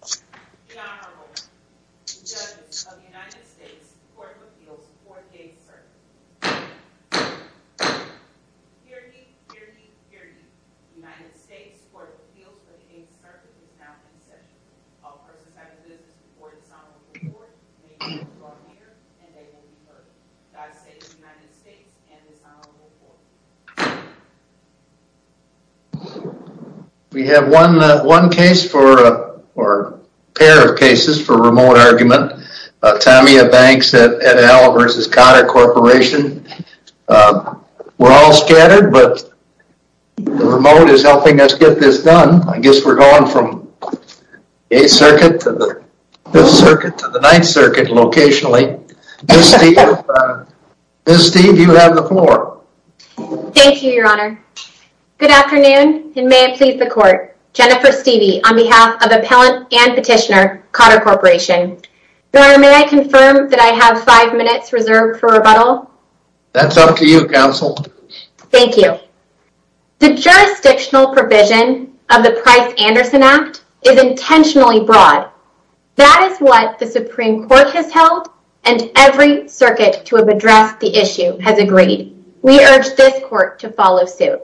The Honorable Judge of the United States Court of Appeals for the Day of Service. Hear ye, hear ye, hear ye. United States Court of Appeals for the Day of Service is now in session. All court representatives report to the Honorable Court. They will be brought here and they will be heard. God save the United States and the Honorable Court. We have one case for, or a pair of cases for remote argument. Tamiya Banks vs Cotter Corporation. We're all scattered but the remote is helping us get this done. I guess we're going from 8th Circuit to the 9th Circuit locationally. Ms. Steeve, you have the floor. Thank you, Your Honor. Good afternoon and may it please the Court. Jennifer Steeve on behalf of Appellant and Petitioner, Cotter Corporation. Your Honor, may I confirm that I have 5 minutes reserved for rebuttal? That's up to you, Counsel. Thank you. The jurisdictional provision of the Price-Anderson Act is intentionally broad. That is what the Supreme Court has held and every circuit to have addressed the issue has agreed. We urge this Court to follow suit.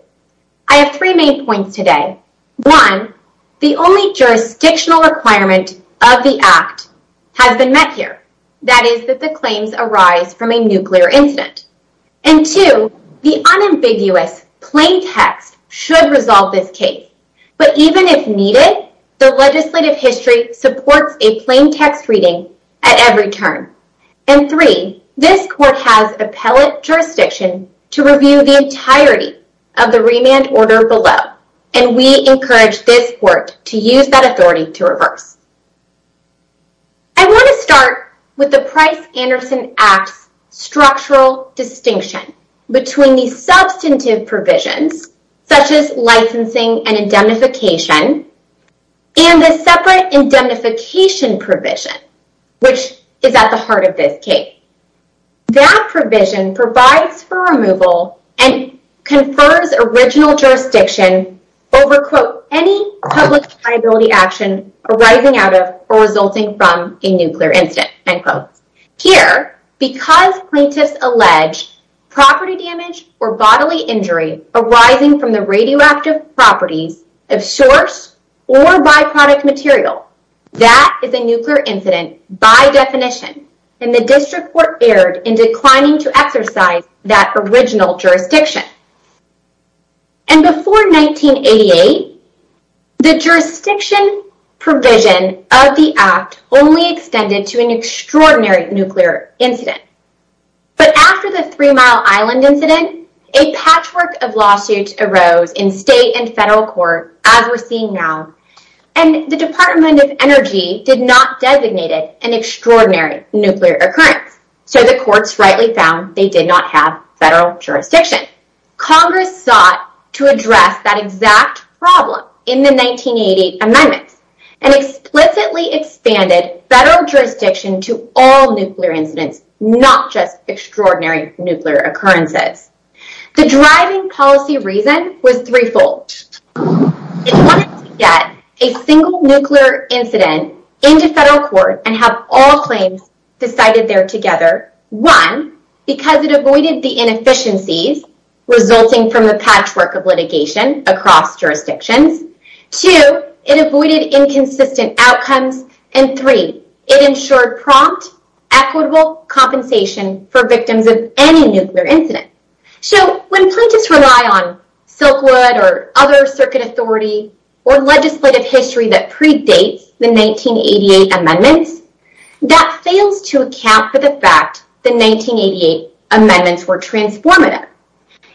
I have three main points today. One, the only jurisdictional requirement of the Act has been met here. That is that the claims arise from a nuclear incident. And two, the unambiguous plain text should resolve this case. But even if needed, the legislative history supports a plain text reading at every turn. And three, this Court has appellate jurisdiction to review the entirety of the remand order below. And we encourage this Court to use that authority to reverse. I want to start with the Price-Anderson Act's structural distinction between the substantive provisions such as licensing and indemnification and the separate indemnification provision, which is at the heart of this case. That provision provides for removal and confers original jurisdiction over, quote, any public liability action arising out of or resulting from a nuclear incident, end quote. Here, because plaintiffs allege property damage or bodily injury arising from the radioactive properties of source or byproduct material, that is a nuclear incident by definition. And the District Court erred in declining to exercise that original jurisdiction. And before 1988, the jurisdiction provision of the Act only extended to an extraordinary nuclear incident. But after the Three Mile Island incident, a patchwork of lawsuits arose in state and federal court, as we're seeing now. And the Department of Energy did not designate it an extraordinary nuclear occurrence. So the courts rightly found they did not have federal jurisdiction. Congress sought to address that exact problem in the 1988 amendments and explicitly expanded federal jurisdiction to all nuclear incidents, not just extraordinary nuclear occurrences. The driving policy reason was threefold. It wanted to get a single nuclear incident into federal court and have all claims decided there together. One, because it avoided the inefficiencies resulting from the patchwork of litigation across jurisdictions. Two, it avoided inconsistent outcomes. And three, it ensured prompt, equitable compensation for victims of any nuclear incident. So when plaintiffs rely on Silkwood or other circuit authority or legislative history that predates the 1988 amendments, that fails to account for the fact the 1988 amendments were transformative.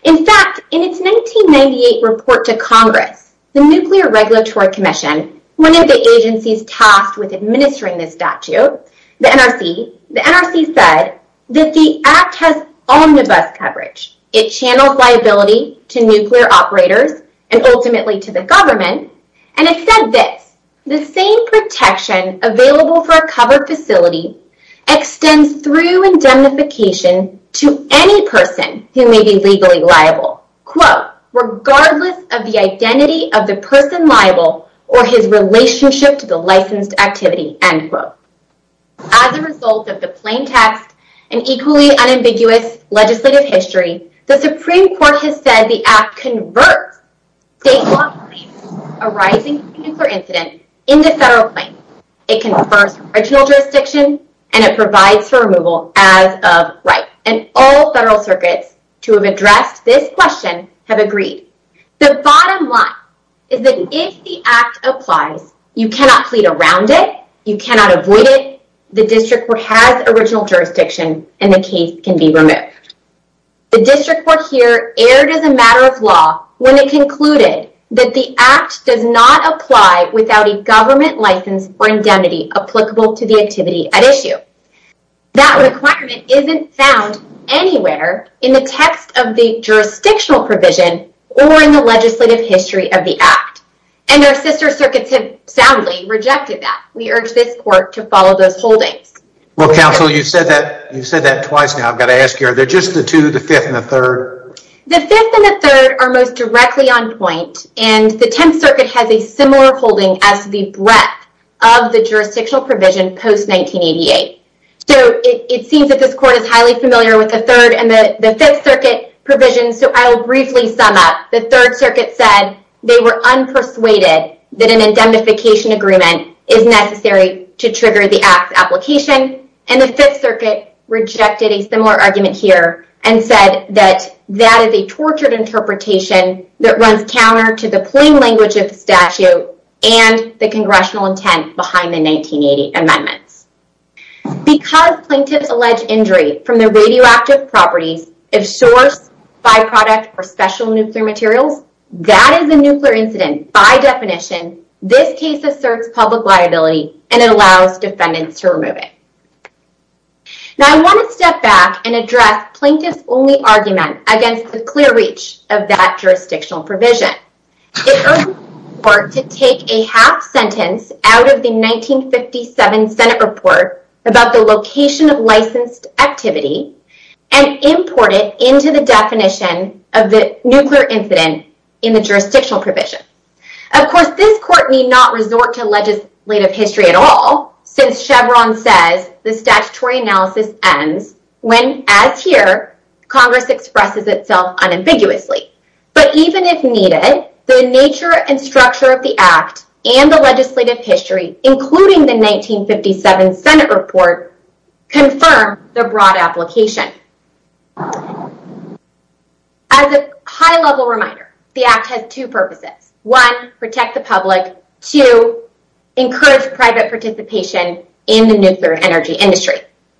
In fact, in its 1998 report to Congress, the Nuclear Regulatory Commission, one of the agencies tasked with administering this statute, the NRC, the NRC said that the act has omnibus coverage. It channels liability to nuclear operators and ultimately to the government. And it said this, As a result of the plain text and equally unambiguous legislative history, the Supreme Court has said the act converts state law claims arising from a nuclear incident into federal claims. It confers original jurisdiction and it provides for removal as of right. And all federal circuits to have addressed this question have agreed. The bottom line is that if the act applies, you cannot plead around it. You cannot avoid it. The district has original jurisdiction and the case can be removed. The district court here erred as a matter of law when it concluded that the act does not apply without a government license or indemnity applicable to the activity at issue. That requirement isn't found anywhere in the text of the jurisdictional provision or in the legislative history of the act. And our sister circuits have soundly rejected that. We urge this court to follow those holdings. Well, counsel, you said that twice now. I've got to ask you, are there just the two, the fifth and the third? The fifth and the third are most directly on point. And the 10th Circuit has a similar holding as the breadth of the jurisdictional provision post 1988. So it seems that this court is highly familiar with the third and the fifth circuit provisions. So I'll briefly sum up. The third circuit said they were unpersuaded that an indemnification agreement is necessary to trigger the application. And the Fifth Circuit rejected a similar argument here and said that that is a tortured interpretation that runs counter to the plain language of statute and the congressional intent behind the 1980 amendments. Because plaintiffs allege injury from the radioactive properties of source byproduct or special nuclear materials. That is a nuclear incident. By definition, this case asserts public liability and allows defendants to remove it. Now, I want to step back and address plaintiff's only argument against the clear reach of that jurisdictional provision. It urges the court to take a half sentence out of the 1957 Senate report about the location of licensed activity and import it into the definition of the nuclear incident in the jurisdictional provision. Of course, this court need not resort to legislative history at all since Chevron says the statutory analysis ends when, as here, Congress expresses itself unambiguously. But even if needed, the nature and structure of the Act and the legislative history, including the 1957 Senate report, confirm the broad application. As a high-level reminder, the Act has two purposes. One, protect the public. Two, encourage private participation in the nuclear energy industry.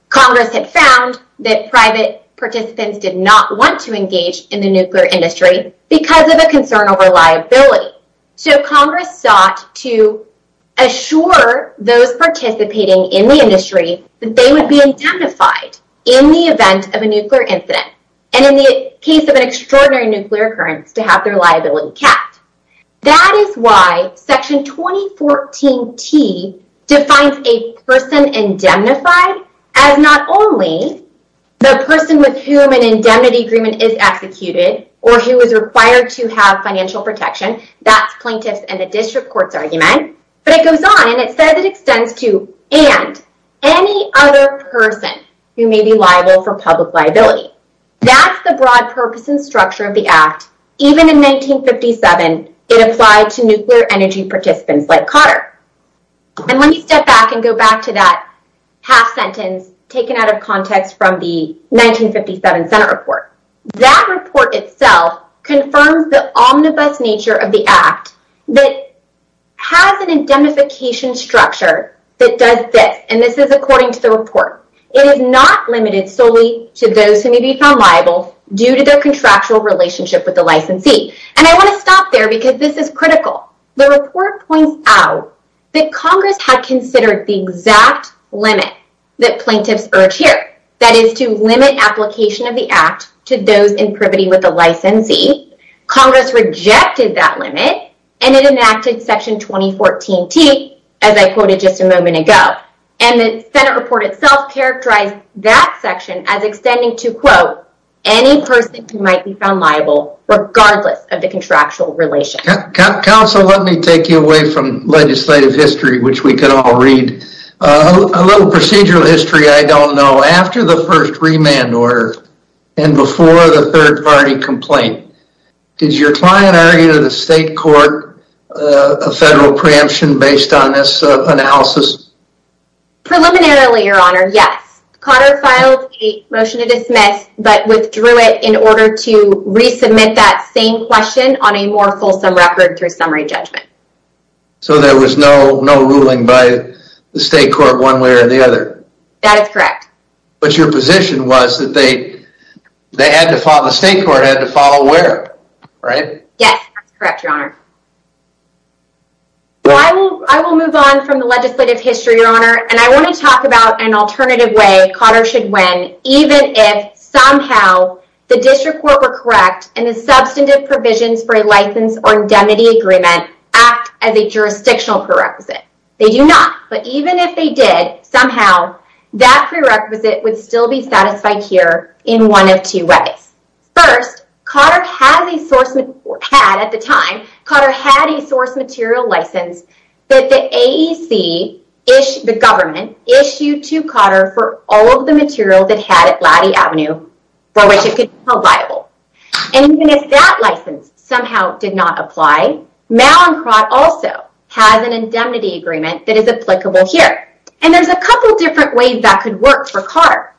Congress had found that private participants did not want to engage in the nuclear industry because of a concern over liability. So, Congress sought to assure those participating in the industry that they would be indemnified in the event of a nuclear incident. And in the case of an extraordinary nuclear occurrence, to have their liability capped. That is why Section 2014T defines a person indemnified as not only the person with whom an indemnity agreement is executed or who is required to have financial protection. That's plaintiff's and the district court's argument. But it goes on and it says it extends to and any other person who may be liable for public liability. That's the broad purpose and structure of the Act. Even in 1957, it applied to nuclear energy participants like Cotter. And let me step back and go back to that half sentence taken out of context from the 1957 Senate report. That report itself confirms the omnibus nature of the Act that has an indemnification structure that does this. And this is according to the report. It is not limited solely to those who may be found liable due to their contractual relationship with the licensee. And I want to stop there because this is critical. The report points out that Congress had considered the exact limit that plaintiffs urge here. That is to limit application of the Act to those in privity with the licensee. Congress rejected that limit and it enacted Section 2014T as I quoted just a moment ago. And the Senate report itself characterized that section as extending to quote, any person who might be found liable regardless of the contractual relationship. Counsel, let me take you away from legislative history which we could all read. A little procedural history I don't know. After the first remand order and before the third party complaint, did your client argue to the state court a federal preemption based on this analysis? Preliminarily, your honor, yes. Cotter filed a motion to dismiss but withdrew it in order to resubmit that same question on a more fulsome record through summary judgment. So there was no ruling by the state court one way or the other. That is correct. But your position was that the state court had to follow where, right? Yes, that is correct, your honor. I will move on from the legislative history, your honor, and I want to talk about an alternative way Cotter should win even if somehow the district court were correct and the substantive provisions for a license or indemnity agreement act as a jurisdictional prerequisite. They do not. But even if they did, somehow, that prerequisite would still be satisfied here in one of two ways. First, Cotter had at the time, Cotter had a source material license that the AEC, the government, issued to Cotter for all of the material that had at Laddy Avenue for which it could be held liable. And even if that license somehow did not apply, Mallinckrodt also has an indemnity agreement that is applicable here. And there's a couple different ways that could work for Cotter.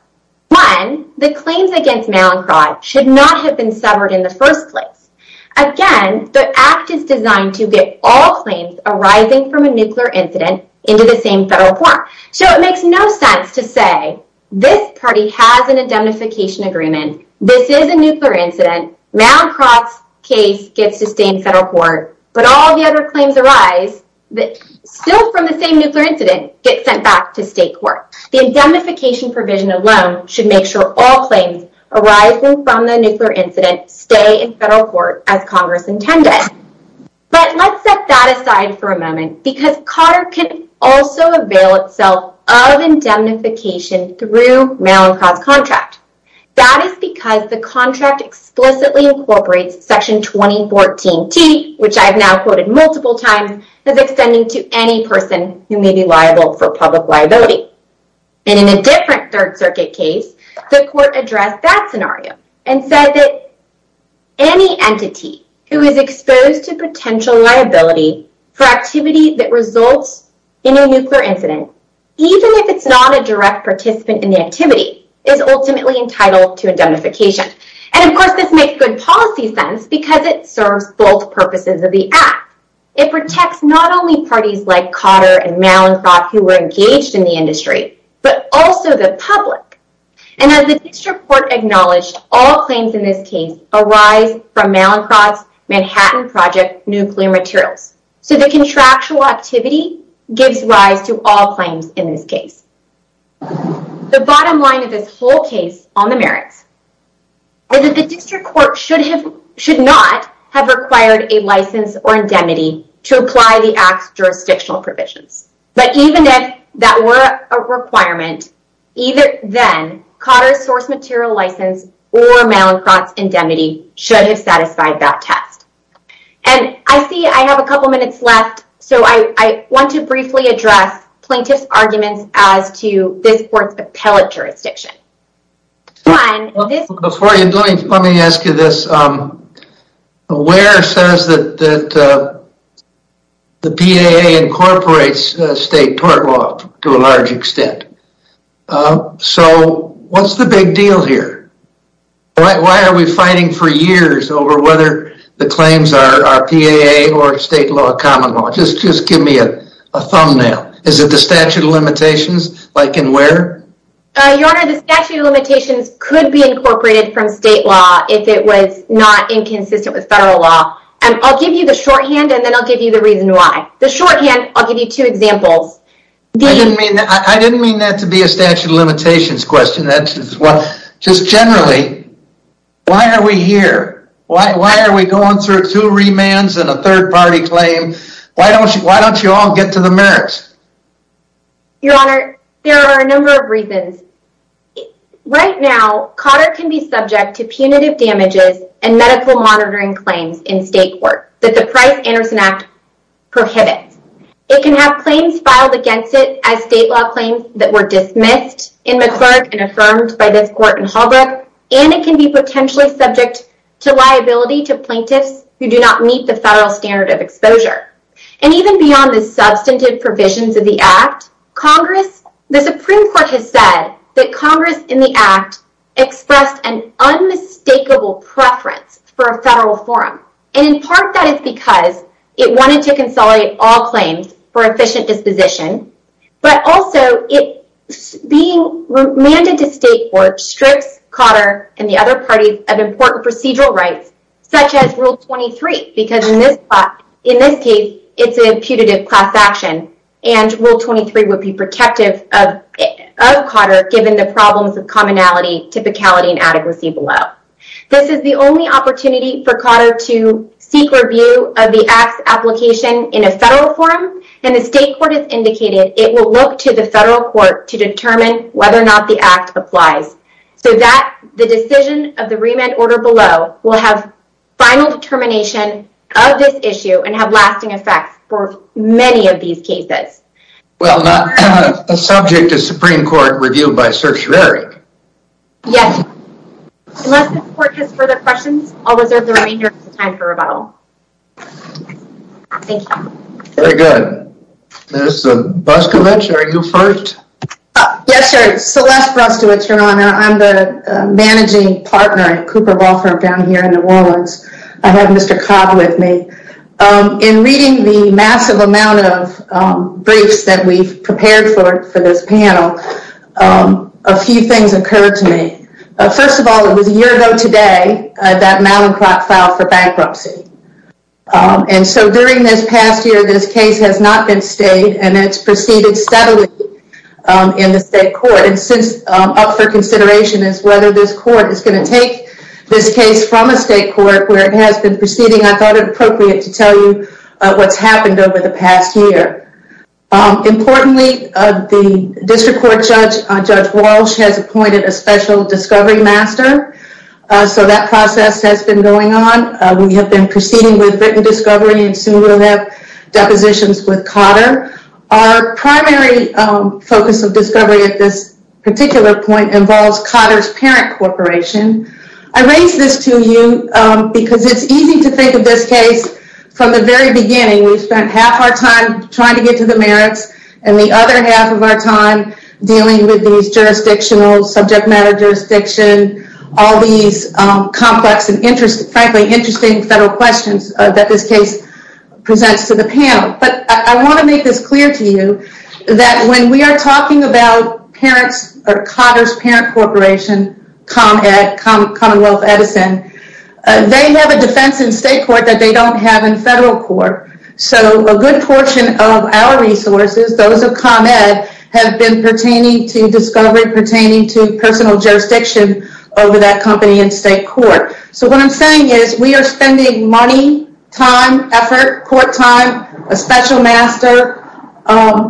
One, the claims against Mallinckrodt should not have been severed in the first place. Again, the act is designed to get all claims arising from a nuclear incident into the same federal form. So it makes no sense to say, this party has an indemnification agreement, this is a nuclear incident, Mallinckrodt's case gets to stay in federal court, but all the other claims arise still from the same nuclear incident get sent back to state court. The indemnification provision alone should make sure all claims arising from the nuclear incident stay in federal court as Congress intended. But let's set that aside for a moment because Cotter can also avail itself of indemnification through Mallinckrodt's contract. That is because the contract explicitly incorporates Section 2014T, which I've now quoted multiple times, as extending to any person who may be liable for public liability. And in a different Third Circuit case, the court addressed that scenario and said that any entity who is exposed to potential liability for activity that results in a nuclear incident, even if it's not a direct participant in the activity, is ultimately entitled to indemnification. And of course this makes good policy sense because it serves both purposes of the act. It protects not only parties like Cotter and Mallinckrodt who were engaged in the industry, but also the public. And as the district court acknowledged, all claims in this case arise from Mallinckrodt's Manhattan Project nuclear materials. So the contractual activity gives rise to all claims in this case. The bottom line of this whole case on the merits is that the district court should not have required a license or indemnity to apply the act's jurisdictional provisions. But even if that were a requirement, either then, Cotter's source material license or Mallinckrodt's indemnity should have satisfied that test. And I see I have a couple minutes left, so I want to briefly address plaintiff's arguments as to this court's appellate jurisdiction. Before you do it, let me ask you this. WARE says that the PAA incorporates state tort law to a large extent. So what's the big deal here? Why are we fighting for years over whether the claims are PAA or state law or common law? Just give me a thumbnail. Is it the statute of limitations like in WARE? Your Honor, the statute of limitations could be incorporated from state law if it was not inconsistent with federal law. I'll give you the shorthand and then I'll give you the reason why. The shorthand, I'll give you two examples. I didn't mean that to be a statute of limitations question. Just generally, why are we here? Why are we going through two remands and a third-party claim? Why don't you all get to the merits? Your Honor, there are a number of reasons. Right now, Cotter can be subject to punitive damages and medical monitoring claims in state court that the Price-Anderson Act prohibits. It can have claims filed against it as state law claims that were dismissed in McClurg and affirmed by this court in Holbrook. And it can be potentially subject to liability to plaintiffs who do not meet the federal standard of exposure. And even beyond the substantive provisions of the Act, the Supreme Court has said that Congress in the Act expressed an unmistakable preference for a federal forum. And in part, that is because it wanted to consolidate all claims for efficient disposition. But also, it's being remanded to state courts, strips Cotter and the other parties of important procedural rights, such as Rule 23. Because in this case, it's a punitive class action. And Rule 23 would be protective of Cotter given the problems of commonality, typicality, and adequacy below. This is the only opportunity for Cotter to seek review of the Act's application in a federal forum. And the state court has indicated it will look to the federal court to determine whether or not the Act applies. So that the decision of the remand order below will have final determination of this issue and have lasting effects for many of these cases. Well, not subject to Supreme Court review by certiorari. Yes. Unless the court has further questions, I'll reserve the remainder of the time for rebuttal. Thank you. Very good. Ms. Brustovich, are you first? Yes, sir. Celeste Brustovich, Your Honor. I'm the managing partner at Cooper Law Firm down here in New Orleans. I have Mr. Cobb with me. In reading the massive amount of briefs that we've prepared for this panel, a few things occurred to me. First of all, it was a year ago today that Mallinckrodt filed for bankruptcy. And so during this past year, this case has not been stayed and it's proceeded steadily in the state court. And since up for consideration is whether this court is going to take this case from a state court where it has been proceeding, I thought it appropriate to tell you what's happened over the past year. Importantly, the district court judge, Judge Walsh, has appointed a special discovery master. So that process has been going on. We have been proceeding with written discovery and soon we'll have depositions with Cotter. Our primary focus of discovery at this particular point involves Cotter's parent corporation. I raise this to you because it's easy to think of this case from the very beginning. We've spent half our time trying to get to the merits and the other half of our time dealing with these jurisdictional subject matter jurisdiction, all these complex and, frankly, interesting federal questions that this case presents to the panel. But I want to make this clear to you that when we are talking about parents or Cotter's parent corporation, ComEd, Commonwealth Edison, they have a defense in state court that they don't have in federal court. So a good portion of our resources, those of ComEd, have been pertaining to discovery, pertaining to personal jurisdiction over that company in state court. So what I'm saying is we are spending money, time, effort, court time, a special master.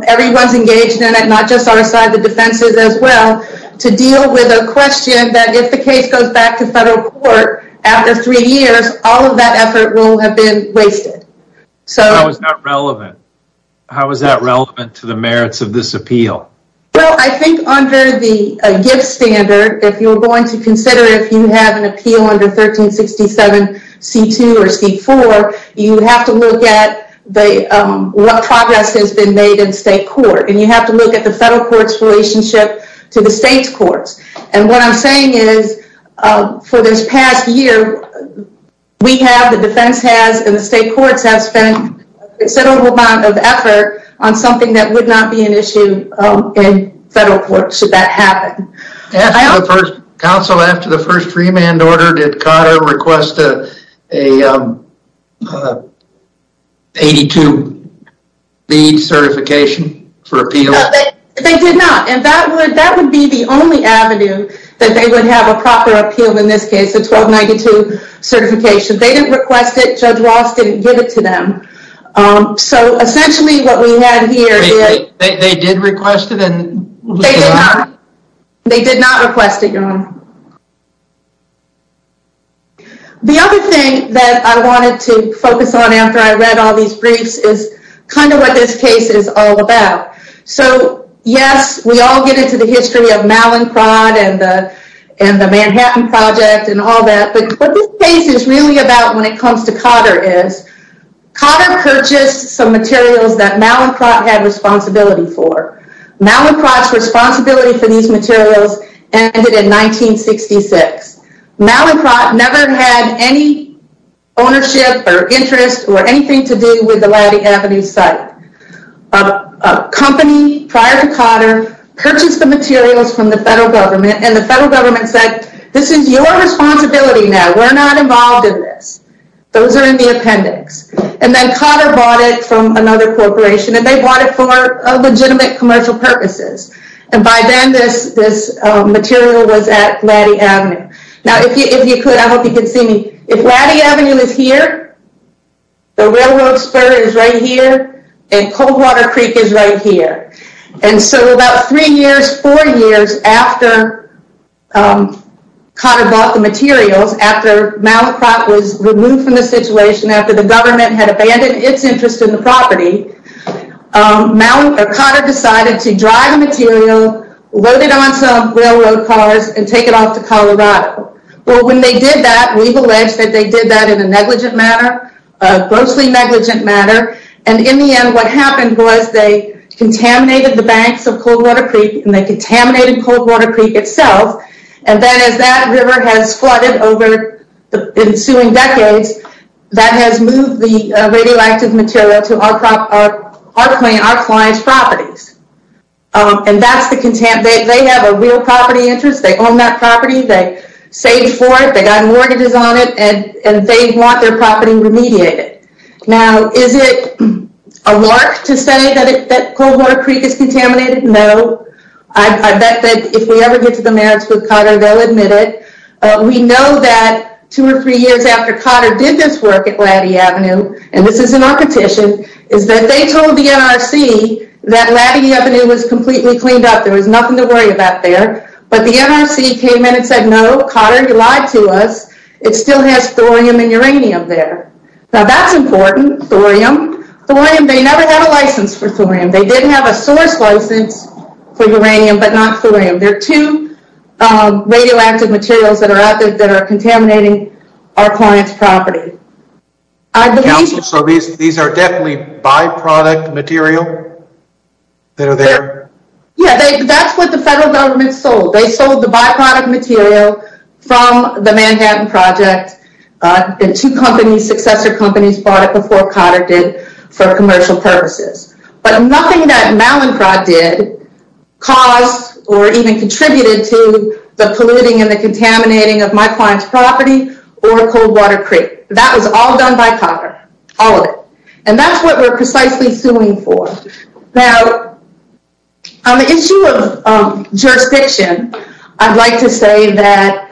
Everyone's engaged in it, not just our side, the defense's as well, to deal with a question that if the case goes back to federal court after three years, all of that effort will have been wasted. How is that relevant? How is that relevant to the merits of this appeal? Well, I think under the gift standard, if you're going to consider if you have an appeal under 1367 C2 or C4, you have to look at what progress has been made in state court. And you have to look at the federal court's relationship to the state's courts. And what I'm saying is for this past year, we have, the defense has, and the state courts have spent a considerable amount of effort on something that would not be an issue in federal court should that happen. Counsel, after the first freeman order, did COTR request a 82-bead certification for appeal? They did not. And that would be the only avenue that they would have a proper appeal in this case, a 1292 certification. They didn't request it. Judge Ross didn't give it to them. So, essentially, what we have here is... They did request it and... They did not. They did not request it, Your Honor. The other thing that I wanted to focus on after I read all these briefs is kind of what this case is all about. So, yes, we all get into the history of Mallinckrodt and the Manhattan Project and all that. But what this case is really about when it comes to COTR is... COTR purchased some materials that Mallinckrodt had responsibility for. Mallinckrodt's responsibility for these materials ended in 1966. Mallinckrodt never had any ownership or interest or anything to do with the Laddy Avenue site. A company prior to COTR purchased the materials from the federal government, and the federal government said, this is your responsibility now. We're not involved in this. Those are in the appendix. And then COTR bought it from another corporation, and they bought it for legitimate commercial purposes. And by then, this material was at Laddy Avenue. Now, if you could, I hope you could see me. If Laddy Avenue is here, the railroad spur is right here, and Coldwater Creek is right here. And so about three years, four years after COTR bought the materials, after Mallinckrodt was removed from the situation, after the government had abandoned its interest in the property, COTR decided to drive the material, load it on some railroad cars, and take it off to Colorado. But when they did that, we've alleged that they did that in a negligent manner, a grossly negligent manner. And in the end, what happened was they contaminated the banks of Coldwater Creek, and they contaminated Coldwater Creek itself. And then as that river has flooded over the ensuing decades, that has moved the radioactive material to our client's properties. And that's the contempt. They have a real property interest. They own that property. They saved for it. They got mortgages on it, and they want their property remediated. Now, is it a lark to say that Coldwater Creek is contaminated? No. I bet that if we ever get to the merits with COTR, they'll admit it. We know that two or three years after COTR did this work at Laddy Avenue, and this is in our petition, is that they told the NRC that Laddy Avenue was completely cleaned up. There was nothing to worry about there. But the NRC came in and said, no, COTR, you lied to us. It still has thorium and uranium there. Now, that's important, thorium. Thorium, they never had a license for thorium. They did have a source license for uranium, but not thorium. There are two radioactive materials that are out there that are contaminating our client's property. Counsel, so these are definitely byproduct material that are there? Yeah, that's what the federal government sold. They sold the byproduct material from the Manhattan Project. Two companies, successor companies, bought it before COTR did for commercial purposes. But nothing that Malincroft did caused or even contributed to the polluting and the contaminating of my client's property or Coldwater Creek. That was all done by COTR, all of it. And that's what we're precisely suing for. Now, on the issue of jurisdiction, I'd like to say that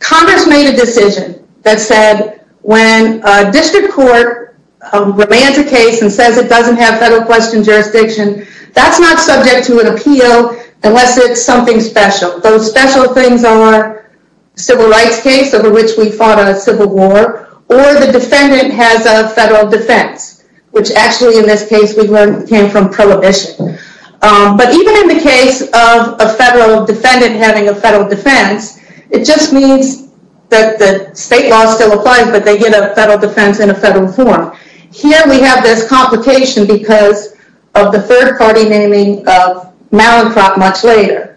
Congress made a decision that said, when a district court demands a case and says it doesn't have federal question jurisdiction, that's not subject to an appeal unless it's something special. Those special things are civil rights case over which we fought a civil war or the defendant has a federal defense, which actually in this case we learned came from prohibition. But even in the case of a federal defendant having a federal defense, it just means that the state law still applies, but they get a federal defense in a federal form. Here we have this complication because of the third party naming of Malincroft much later.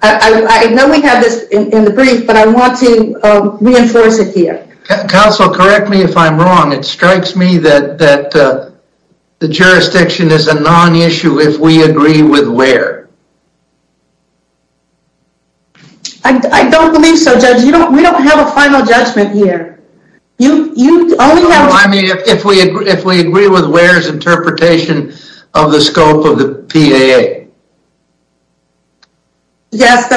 I know we have this in the brief, but I want to reinforce it here. Counsel, correct me if I'm wrong. It strikes me that the jurisdiction is a non-issue if we agree with Ware. I don't believe so, Judge. We don't have a final judgment here. I mean, if we agree with Ware's interpretation of the scope of the PAA. Yes,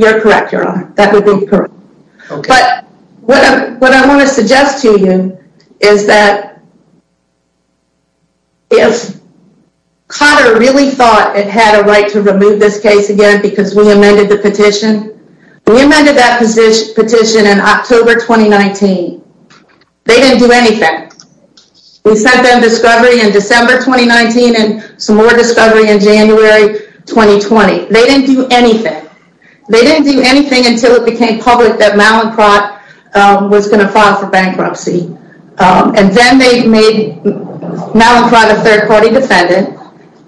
you're correct, Your Honor. That would be correct. But what I want to suggest to you is that if Cotter really thought it had a right to remove this case again because we amended the petition, we amended that petition in October 2019. They didn't do anything. We sent them discovery in December 2019 and some more discovery in January 2020. They didn't do anything. They didn't do anything until it became public that Malincroft was going to file for bankruptcy. And then they made Malincroft a third party defendant,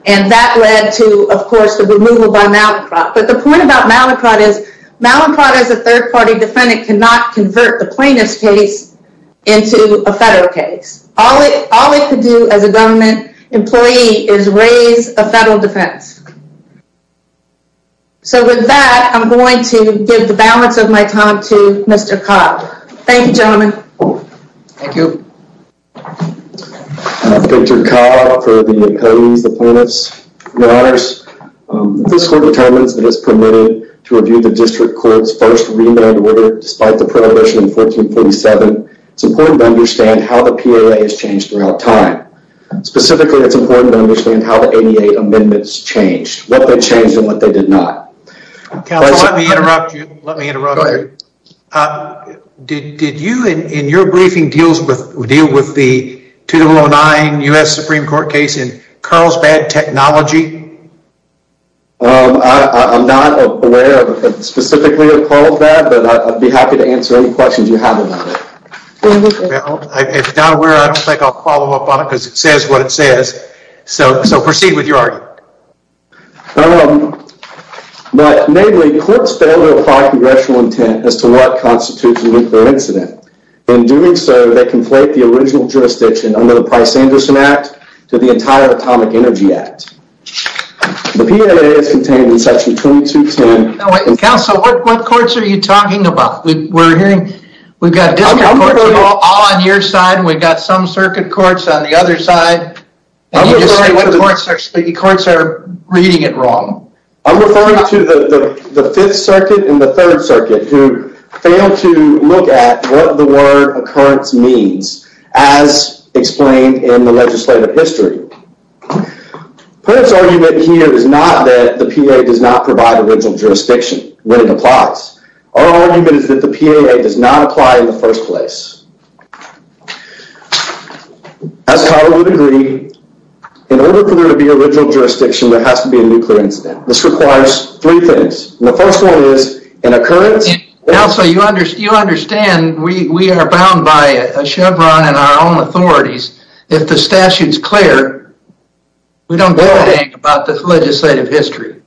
and that led to, of course, the removal by Malincroft. But the point about Malincroft is Malincroft as a third party defendant cannot convert the plaintiff's case into a federal case. All it could do as a government employee is raise a federal defense. So with that, I'm going to give the balance of my time to Mr. Cobb. Thank you, gentlemen. Thank you. Victor Cobb for the attorneys, the plaintiffs. Your Honors, this court determines that it is permitted to review the district court's first remand order despite the prohibition in 1447. It's important to understand how the PLA has changed throughout time. Specifically, it's important to understand how the 88 amendments changed, what they changed and what they did not. Counsel, let me interrupt you. Let me interrupt you. Go ahead. Did you, in your briefing, deal with the 2009 U.S. Supreme Court case in Carlsbad Technology? I'm not aware specifically of Carlsbad, but I'd be happy to answer any questions you have about it. If you're not aware, I don't think I'll follow up on it because it says what it says. So proceed with your argument. But mainly, courts fail to apply congressional intent as to what constitutes a nuclear incident. In doing so, they conflate the original jurisdiction under the Price-Anderson Act to the entire Atomic Energy Act. The PLA is contained in Section 2210. Counsel, what courts are you talking about? We're hearing we've got district courts all on your side and we've got some circuit courts on the other side. The courts are reading it wrong. I'm referring to the 5th Circuit and the 3rd Circuit who failed to look at what the word occurrence means as explained in the legislative history. Perrin's argument here is not that the PLA does not provide original jurisdiction when it applies. Our argument is that the PLA does not apply in the first place. As Kyle would agree, in order for there to be original jurisdiction, there has to be a nuclear incident. This requires three things. The first one is an occurrence... Counsel, you understand we are bound by a Chevron and our own authorities. If the statute's clear, we don't get anything about the legislative history.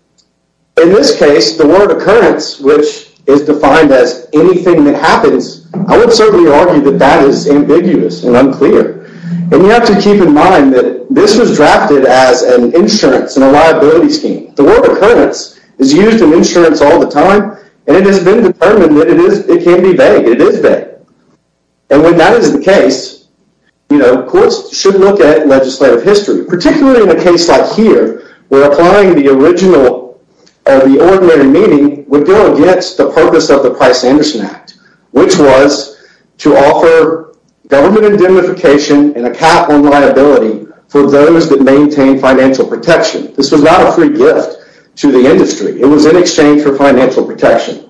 In this case, the word occurrence, which is defined as anything that happens, I would certainly argue that that is ambiguous and unclear. You have to keep in mind that this was drafted as an insurance and a liability scheme. The word occurrence is used in insurance all the time and it has been determined that it can be vague. It is vague. When that is the case, courts should look at legislative history, particularly in a case like here where applying the original or the ordinary meaning would go against the purpose of the Price-Anderson Act, which was to offer government indemnification and a cap on liability for those that maintain financial protection. This was not a free gift to the industry. It was in exchange for financial protection.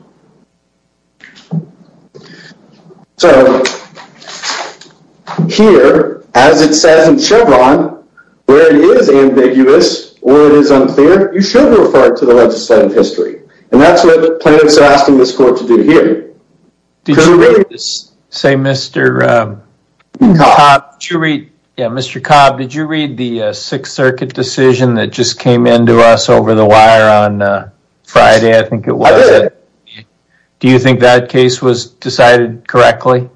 Here, as it says in Chevron, where it is ambiguous or it is unclear, you should refer it to the legislative history. That's what plaintiffs are asking this court to do here. Mr. Cobb, did you read the Sixth Circuit decision that just came in to us over the wire on Friday? I think it was. I did. Do you think that case was decided correctly?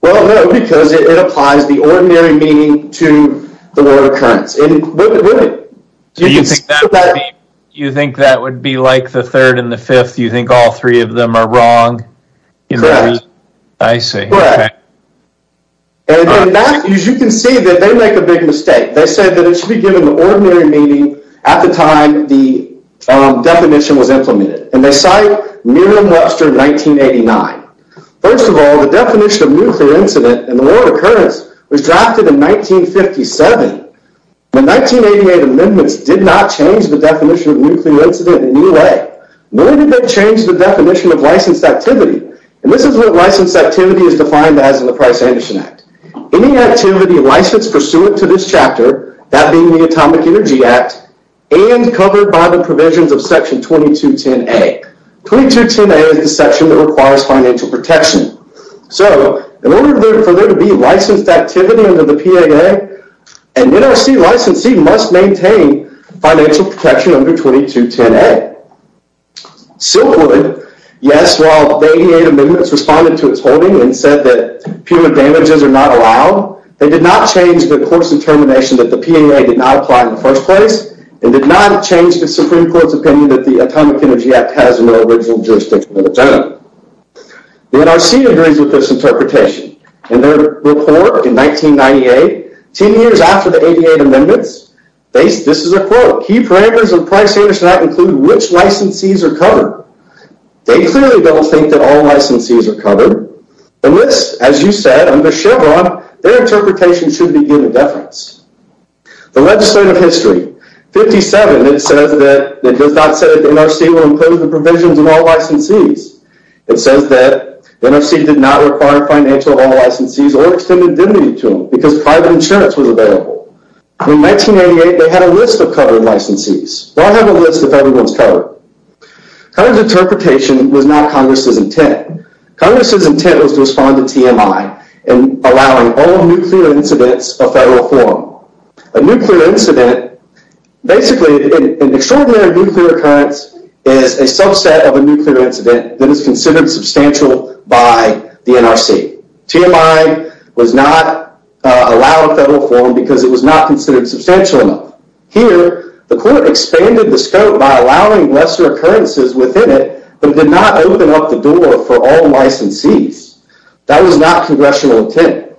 Well, no, because it applies the ordinary meaning to the word occurrence. Do you think that would be like the third and the fifth? Do you think all three of them are wrong? Correct. I see. Correct. As you can see, they make a big mistake. They said that it should be given the ordinary meaning at the time the definition was implemented. They cite Merriam-Webster 1989. First of all, the definition of nuclear incident and the word occurrence was drafted in 1957. The 1988 amendments did not change the definition of nuclear incident in any way. Nor did they change the definition of licensed activity. And this is what licensed activity is defined as in the Price-Anderson Act. Any activity licensed pursuant to this chapter, that being the Atomic Energy Act, and covered by the provisions of Section 2210A. 2210A is the section that requires financial protection. So, in order for there to be licensed activity under the PAA, an NRC licensee must maintain financial protection under 2210A. Silverwood, yes, while the 1988 amendments responded to its holding and said that human damages are not allowed, they did not change the court's determination that the PAA did not apply in the first place. And did not change the Supreme Court's opinion that the Atomic Energy Act has no original jurisdiction of its own. The NRC agrees with this interpretation. In their report in 1998, 10 years after the 1988 amendments, this is a quote. Key parameters of the Price-Anderson Act include which licensees are covered. They clearly don't think that all licensees are covered. And this, as you said, under Chevron, their interpretation should be given deference. The legislative history. 57, it says that, it does not say that the NRC will include the provisions of all licensees. It says that the NRC did not require financial of all licensees or extended identity to them because private insurance was available. In 1988, they had a list of covered licensees. Why have a list if everyone's covered? Covered's interpretation was not Congress's intent. Congress's intent was to respond to TMI and allowing all nuclear incidents a federal forum. A nuclear incident, basically an extraordinary nuclear occurrence is a subset of a nuclear incident that is considered substantial by the NRC. TMI was not allowed a federal forum because it was not considered substantial enough. Here, the court expanded the scope by allowing lesser occurrences within it, but did not open up the door for all licensees. That was not Congressional intent.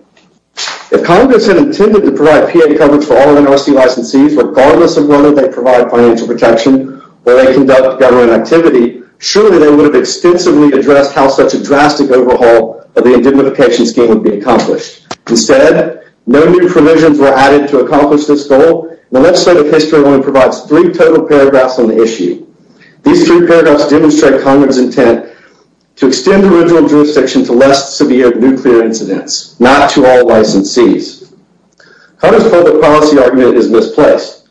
If Congress had intended to provide PA coverage for all NRC licensees, regardless of whether they provide financial protection or they conduct government activity, surely they would have extensively addressed how such a drastic overhaul of the identification scheme would be accomplished. Instead, no new provisions were added to accomplish this goal. The legislative history alone provides three total paragraphs on the issue. These three paragraphs demonstrate Congress's intent to extend the original jurisdiction to less severe nuclear incidents, not to all licensees. Congress's public policy argument is misplaced.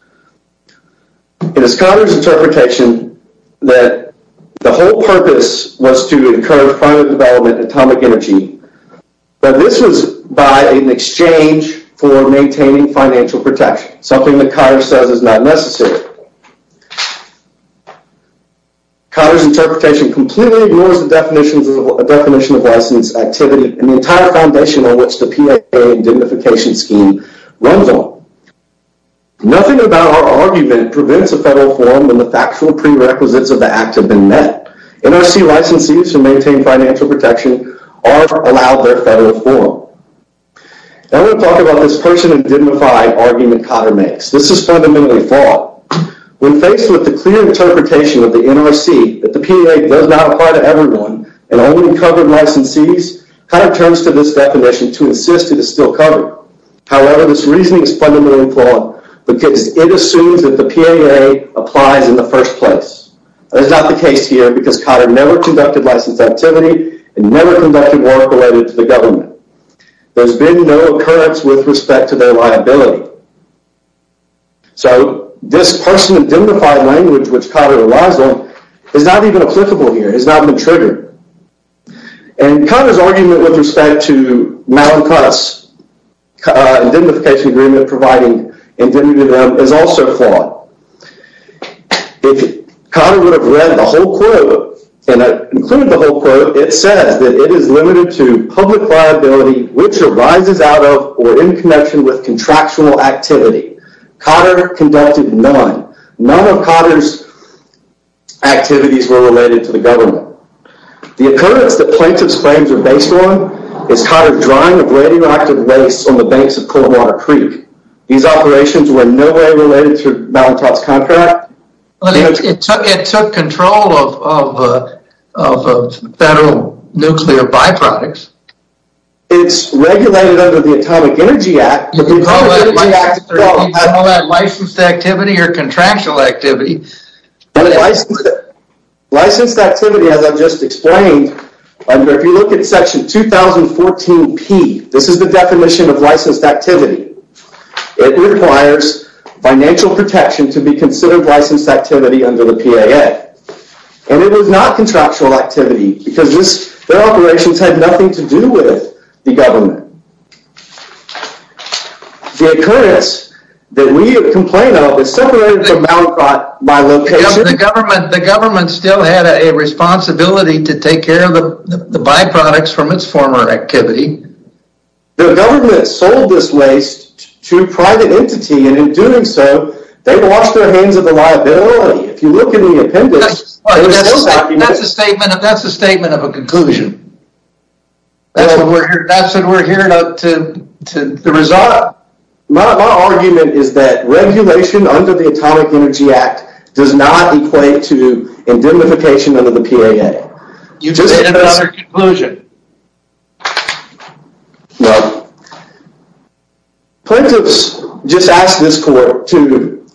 It is Congress's interpretation that the whole purpose was to encourage private development in atomic energy, but this was by an exchange for maintaining financial protection, something that Cotter says is not necessary. Cotter's interpretation completely ignores the definition of license activity and the entire foundation on which the PA identification scheme runs on. Nothing about our argument prevents a federal forum when the factual prerequisites of the act have been met. NRC licensees who maintain financial protection are allowed their federal forum. Now I'm going to talk about this person-indignified argument Cotter makes. This is fundamentally flawed. When faced with the clear interpretation of the NRC that the PA does not apply to everyone and only covered licensees, Cotter turns to this definition to insist it is still covered. However, this reasoning is fundamentally flawed because it assumes that the PAA applies in the first place. That's not the case here because Cotter never conducted license activity and never conducted work related to the government. There's been no occurrence with respect to their liability. So this person-indignified language which Cotter relies on is not even applicable here. It has not been triggered. And Cotter's argument with respect to Malincus, an indignification agreement providing indemnity to them, is also flawed. If Cotter would have read the whole quote, and I've included the whole quote, it says that it is limited to public liability which arises out of or in connection with contractual activity. Cotter conducted none. None of Cotter's activities were related to the government. The occurrence that plaintiff's claims are based on is Cotter drying of radioactive waste on the banks of Coldwater Creek. These operations were nowhere related to Malincus's contract. It took control of federal nuclear byproducts. It's regulated under the Atomic Energy Act. You can call that licensed activity or contractual activity. Licensed activity, as I've just explained, if you look at Section 2014P, this is the definition of licensed activity. It requires financial protection to be considered licensed activity under the PAA. And it was not contractual activity because their operations had nothing to do with the government. The occurrence that we complain of is separated from Malincus by location. The government still had a responsibility to take care of the byproducts from its former activity. The government sold this waste to a private entity, and in doing so, they washed their hands of the liability. If you look at the appendix, they were still sacking it. That's a statement of a conclusion. That's what we're hearing up to the result. My argument is that regulation under the Atomic Energy Act does not equate to indemnification under the PAA. You made another conclusion. No. Plaintiffs just asked this court to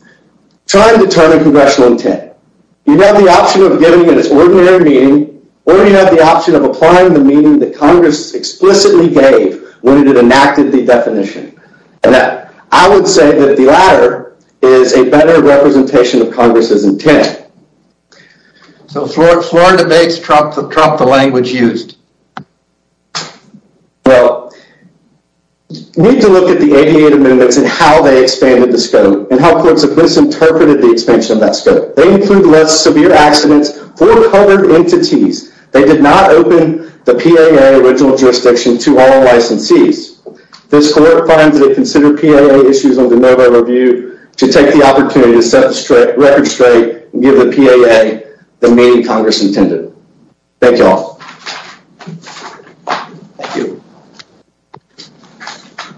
try and determine congressional intent. You have the option of giving it its ordinary meaning, or you have the option of applying the meaning that Congress explicitly gave when it enacted the definition. I would say that the latter is a better representation of Congress's intent. Florida makes Trump the language used. We need to look at the ADA amendments and how they expanded the scope and how courts have misinterpreted the expansion of that scope. They include less severe accidents for covered entities. They did not open the PAA original jurisdiction to all licensees. This court finds that it considered PAA issues under no review to take the opportunity to set the record straight and give the PAA the meaning Congress intended. Thank you all. Thank you.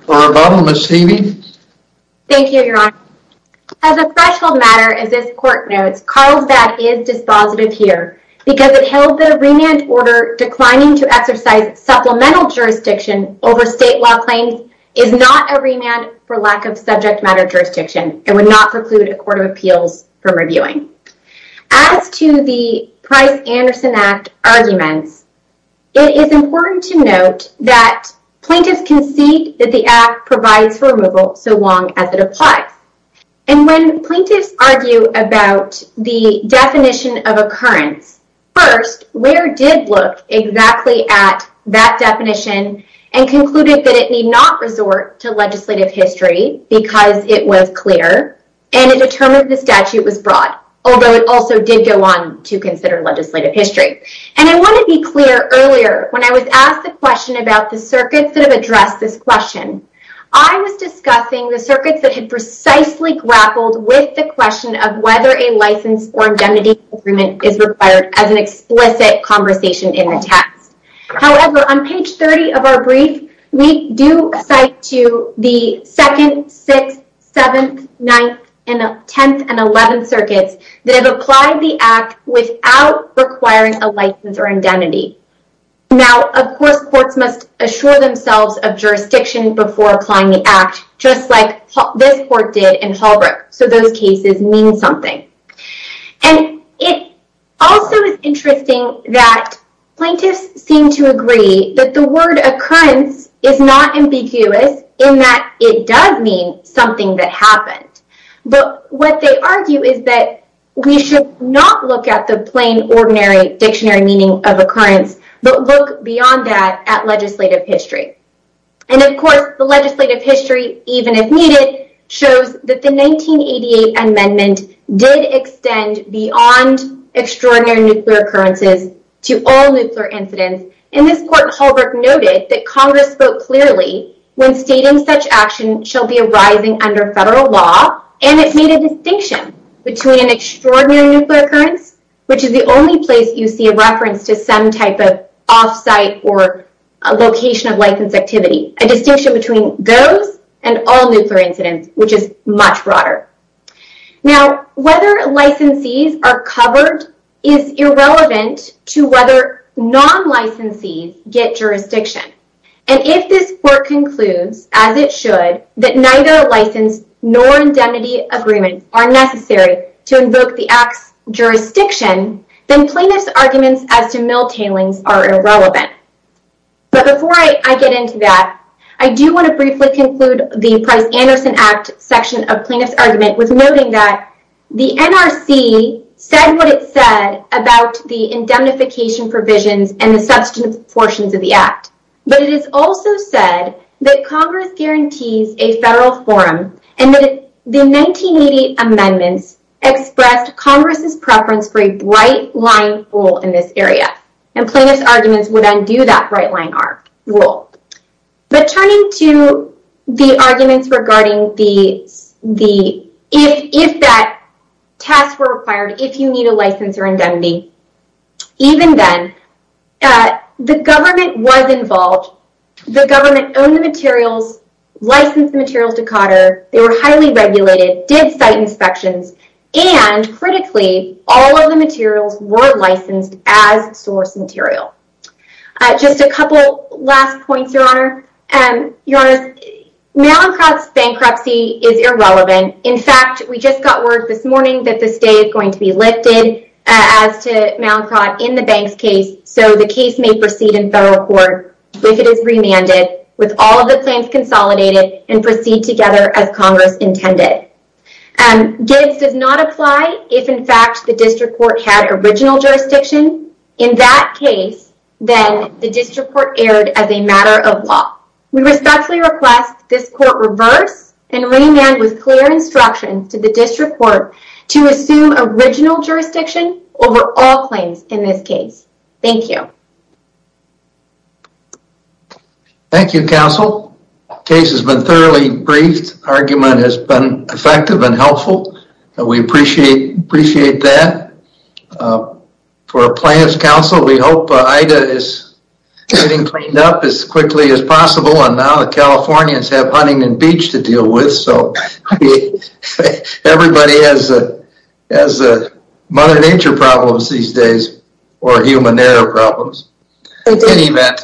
For our final, Ms. Heavey. Thank you, Your Honor. As a threshold matter as this court notes, Carlsbad is dispositive here because it held that a remand order declining to exercise supplemental jurisdiction over state law claims is not a remand for lack of subject matter jurisdiction and would not preclude a court of appeals from reviewing. As to the Price-Anderson Act arguments, it is important to note that plaintiffs concede that the Act provides for removal so long as it applies. And when plaintiffs argue about the definition of occurrence, first, Ware did look exactly at that definition and concluded that it need not resort to legislative history because it was clear and it determined the statute was broad, although it also did go on to consider legislative history. And I want to be clear earlier. When I was asked the question about the circuits that have addressed this question, I was discussing the circuits that had precisely grappled with the question of whether a license or identity agreement is required as an explicit conversation in the text. However, on page 30 of our brief, we do cite to the 2nd, 6th, 7th, 9th, 10th, and 11th circuits that have applied the Act without requiring a license or identity. Now, of course, courts must assure themselves of jurisdiction before applying the Act, just like this court did in Holbrook. So those cases mean something. And it also is interesting that plaintiffs seem to agree that the word occurrence is not ambiguous in that it does mean something that happened. But what they argue is that we should not look at the plain, ordinary dictionary meaning of occurrence, but look beyond that at legislative history. And of course, the legislative history, even if needed, shows that the 1988 amendment did extend beyond extraordinary nuclear occurrences to all nuclear incidents. And this court in Holbrook noted that Congress spoke clearly when stating such action shall be arising under federal law. And it made a distinction between an extraordinary nuclear occurrence, which is the only place you see a reference to some type of off-site or location of license activity. A distinction between those and all nuclear incidents, which is much broader. Now, whether licensees are covered is irrelevant to whether non-licensees get jurisdiction. And if this court concludes, as it should, that neither license nor indemnity agreements are necessary to invoke the Act's jurisdiction, then plaintiffs' arguments as to mill tailings are irrelevant. But before I get into that, I do want to briefly conclude the Price-Anderson Act section of plaintiffs' argument with noting that the NRC said what it said about the indemnification provisions and the substantive portions of the Act. But it is also said that Congress guarantees a federal forum and that the 1988 amendments expressed Congress' preference for a bright-line rule in this area. And plaintiffs' arguments would undo that bright-line rule. But turning to the arguments regarding if that task were required, if you need a license or indemnity, even then, the government was involved. The government owned the materials, licensed the materials to COTR, they were highly regulated, did site inspections, and, critically, all of the materials were licensed as source material. Just a couple last points, Your Honor. Your Honor, Mallinckrodt's bankruptcy is irrelevant. In fact, we just got word this morning that the state is going to be lifted as to Mallinckrodt in the Banks case, so the case may proceed in federal court if it is remanded with all of the claims consolidated and proceed together as Congress intended. Gives does not apply if, in fact, the district court had original jurisdiction. In that case, then, the district court erred as a matter of law. We respectfully request this court reverse and remand with clear instruction to the district court to assume original jurisdiction over all claims in this case. Thank you. Thank you, counsel. Case has been thoroughly briefed. Argument has been effective and helpful. We appreciate that. For plaintiff's counsel, we hope Ida is getting cleaned up as quickly as possible, and now the Californians have Huntington Beach to deal with, so everybody has Mother Nature problems these days or human error problems. In any event,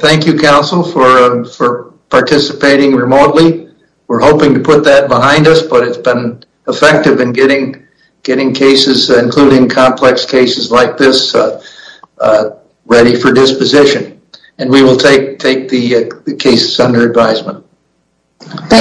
thank you, counsel, for participating remotely. We're hoping to put that behind us, but it's been effective in getting cases, including complex cases like this, ready for disposition, and we will take the cases under advisement. Thank you.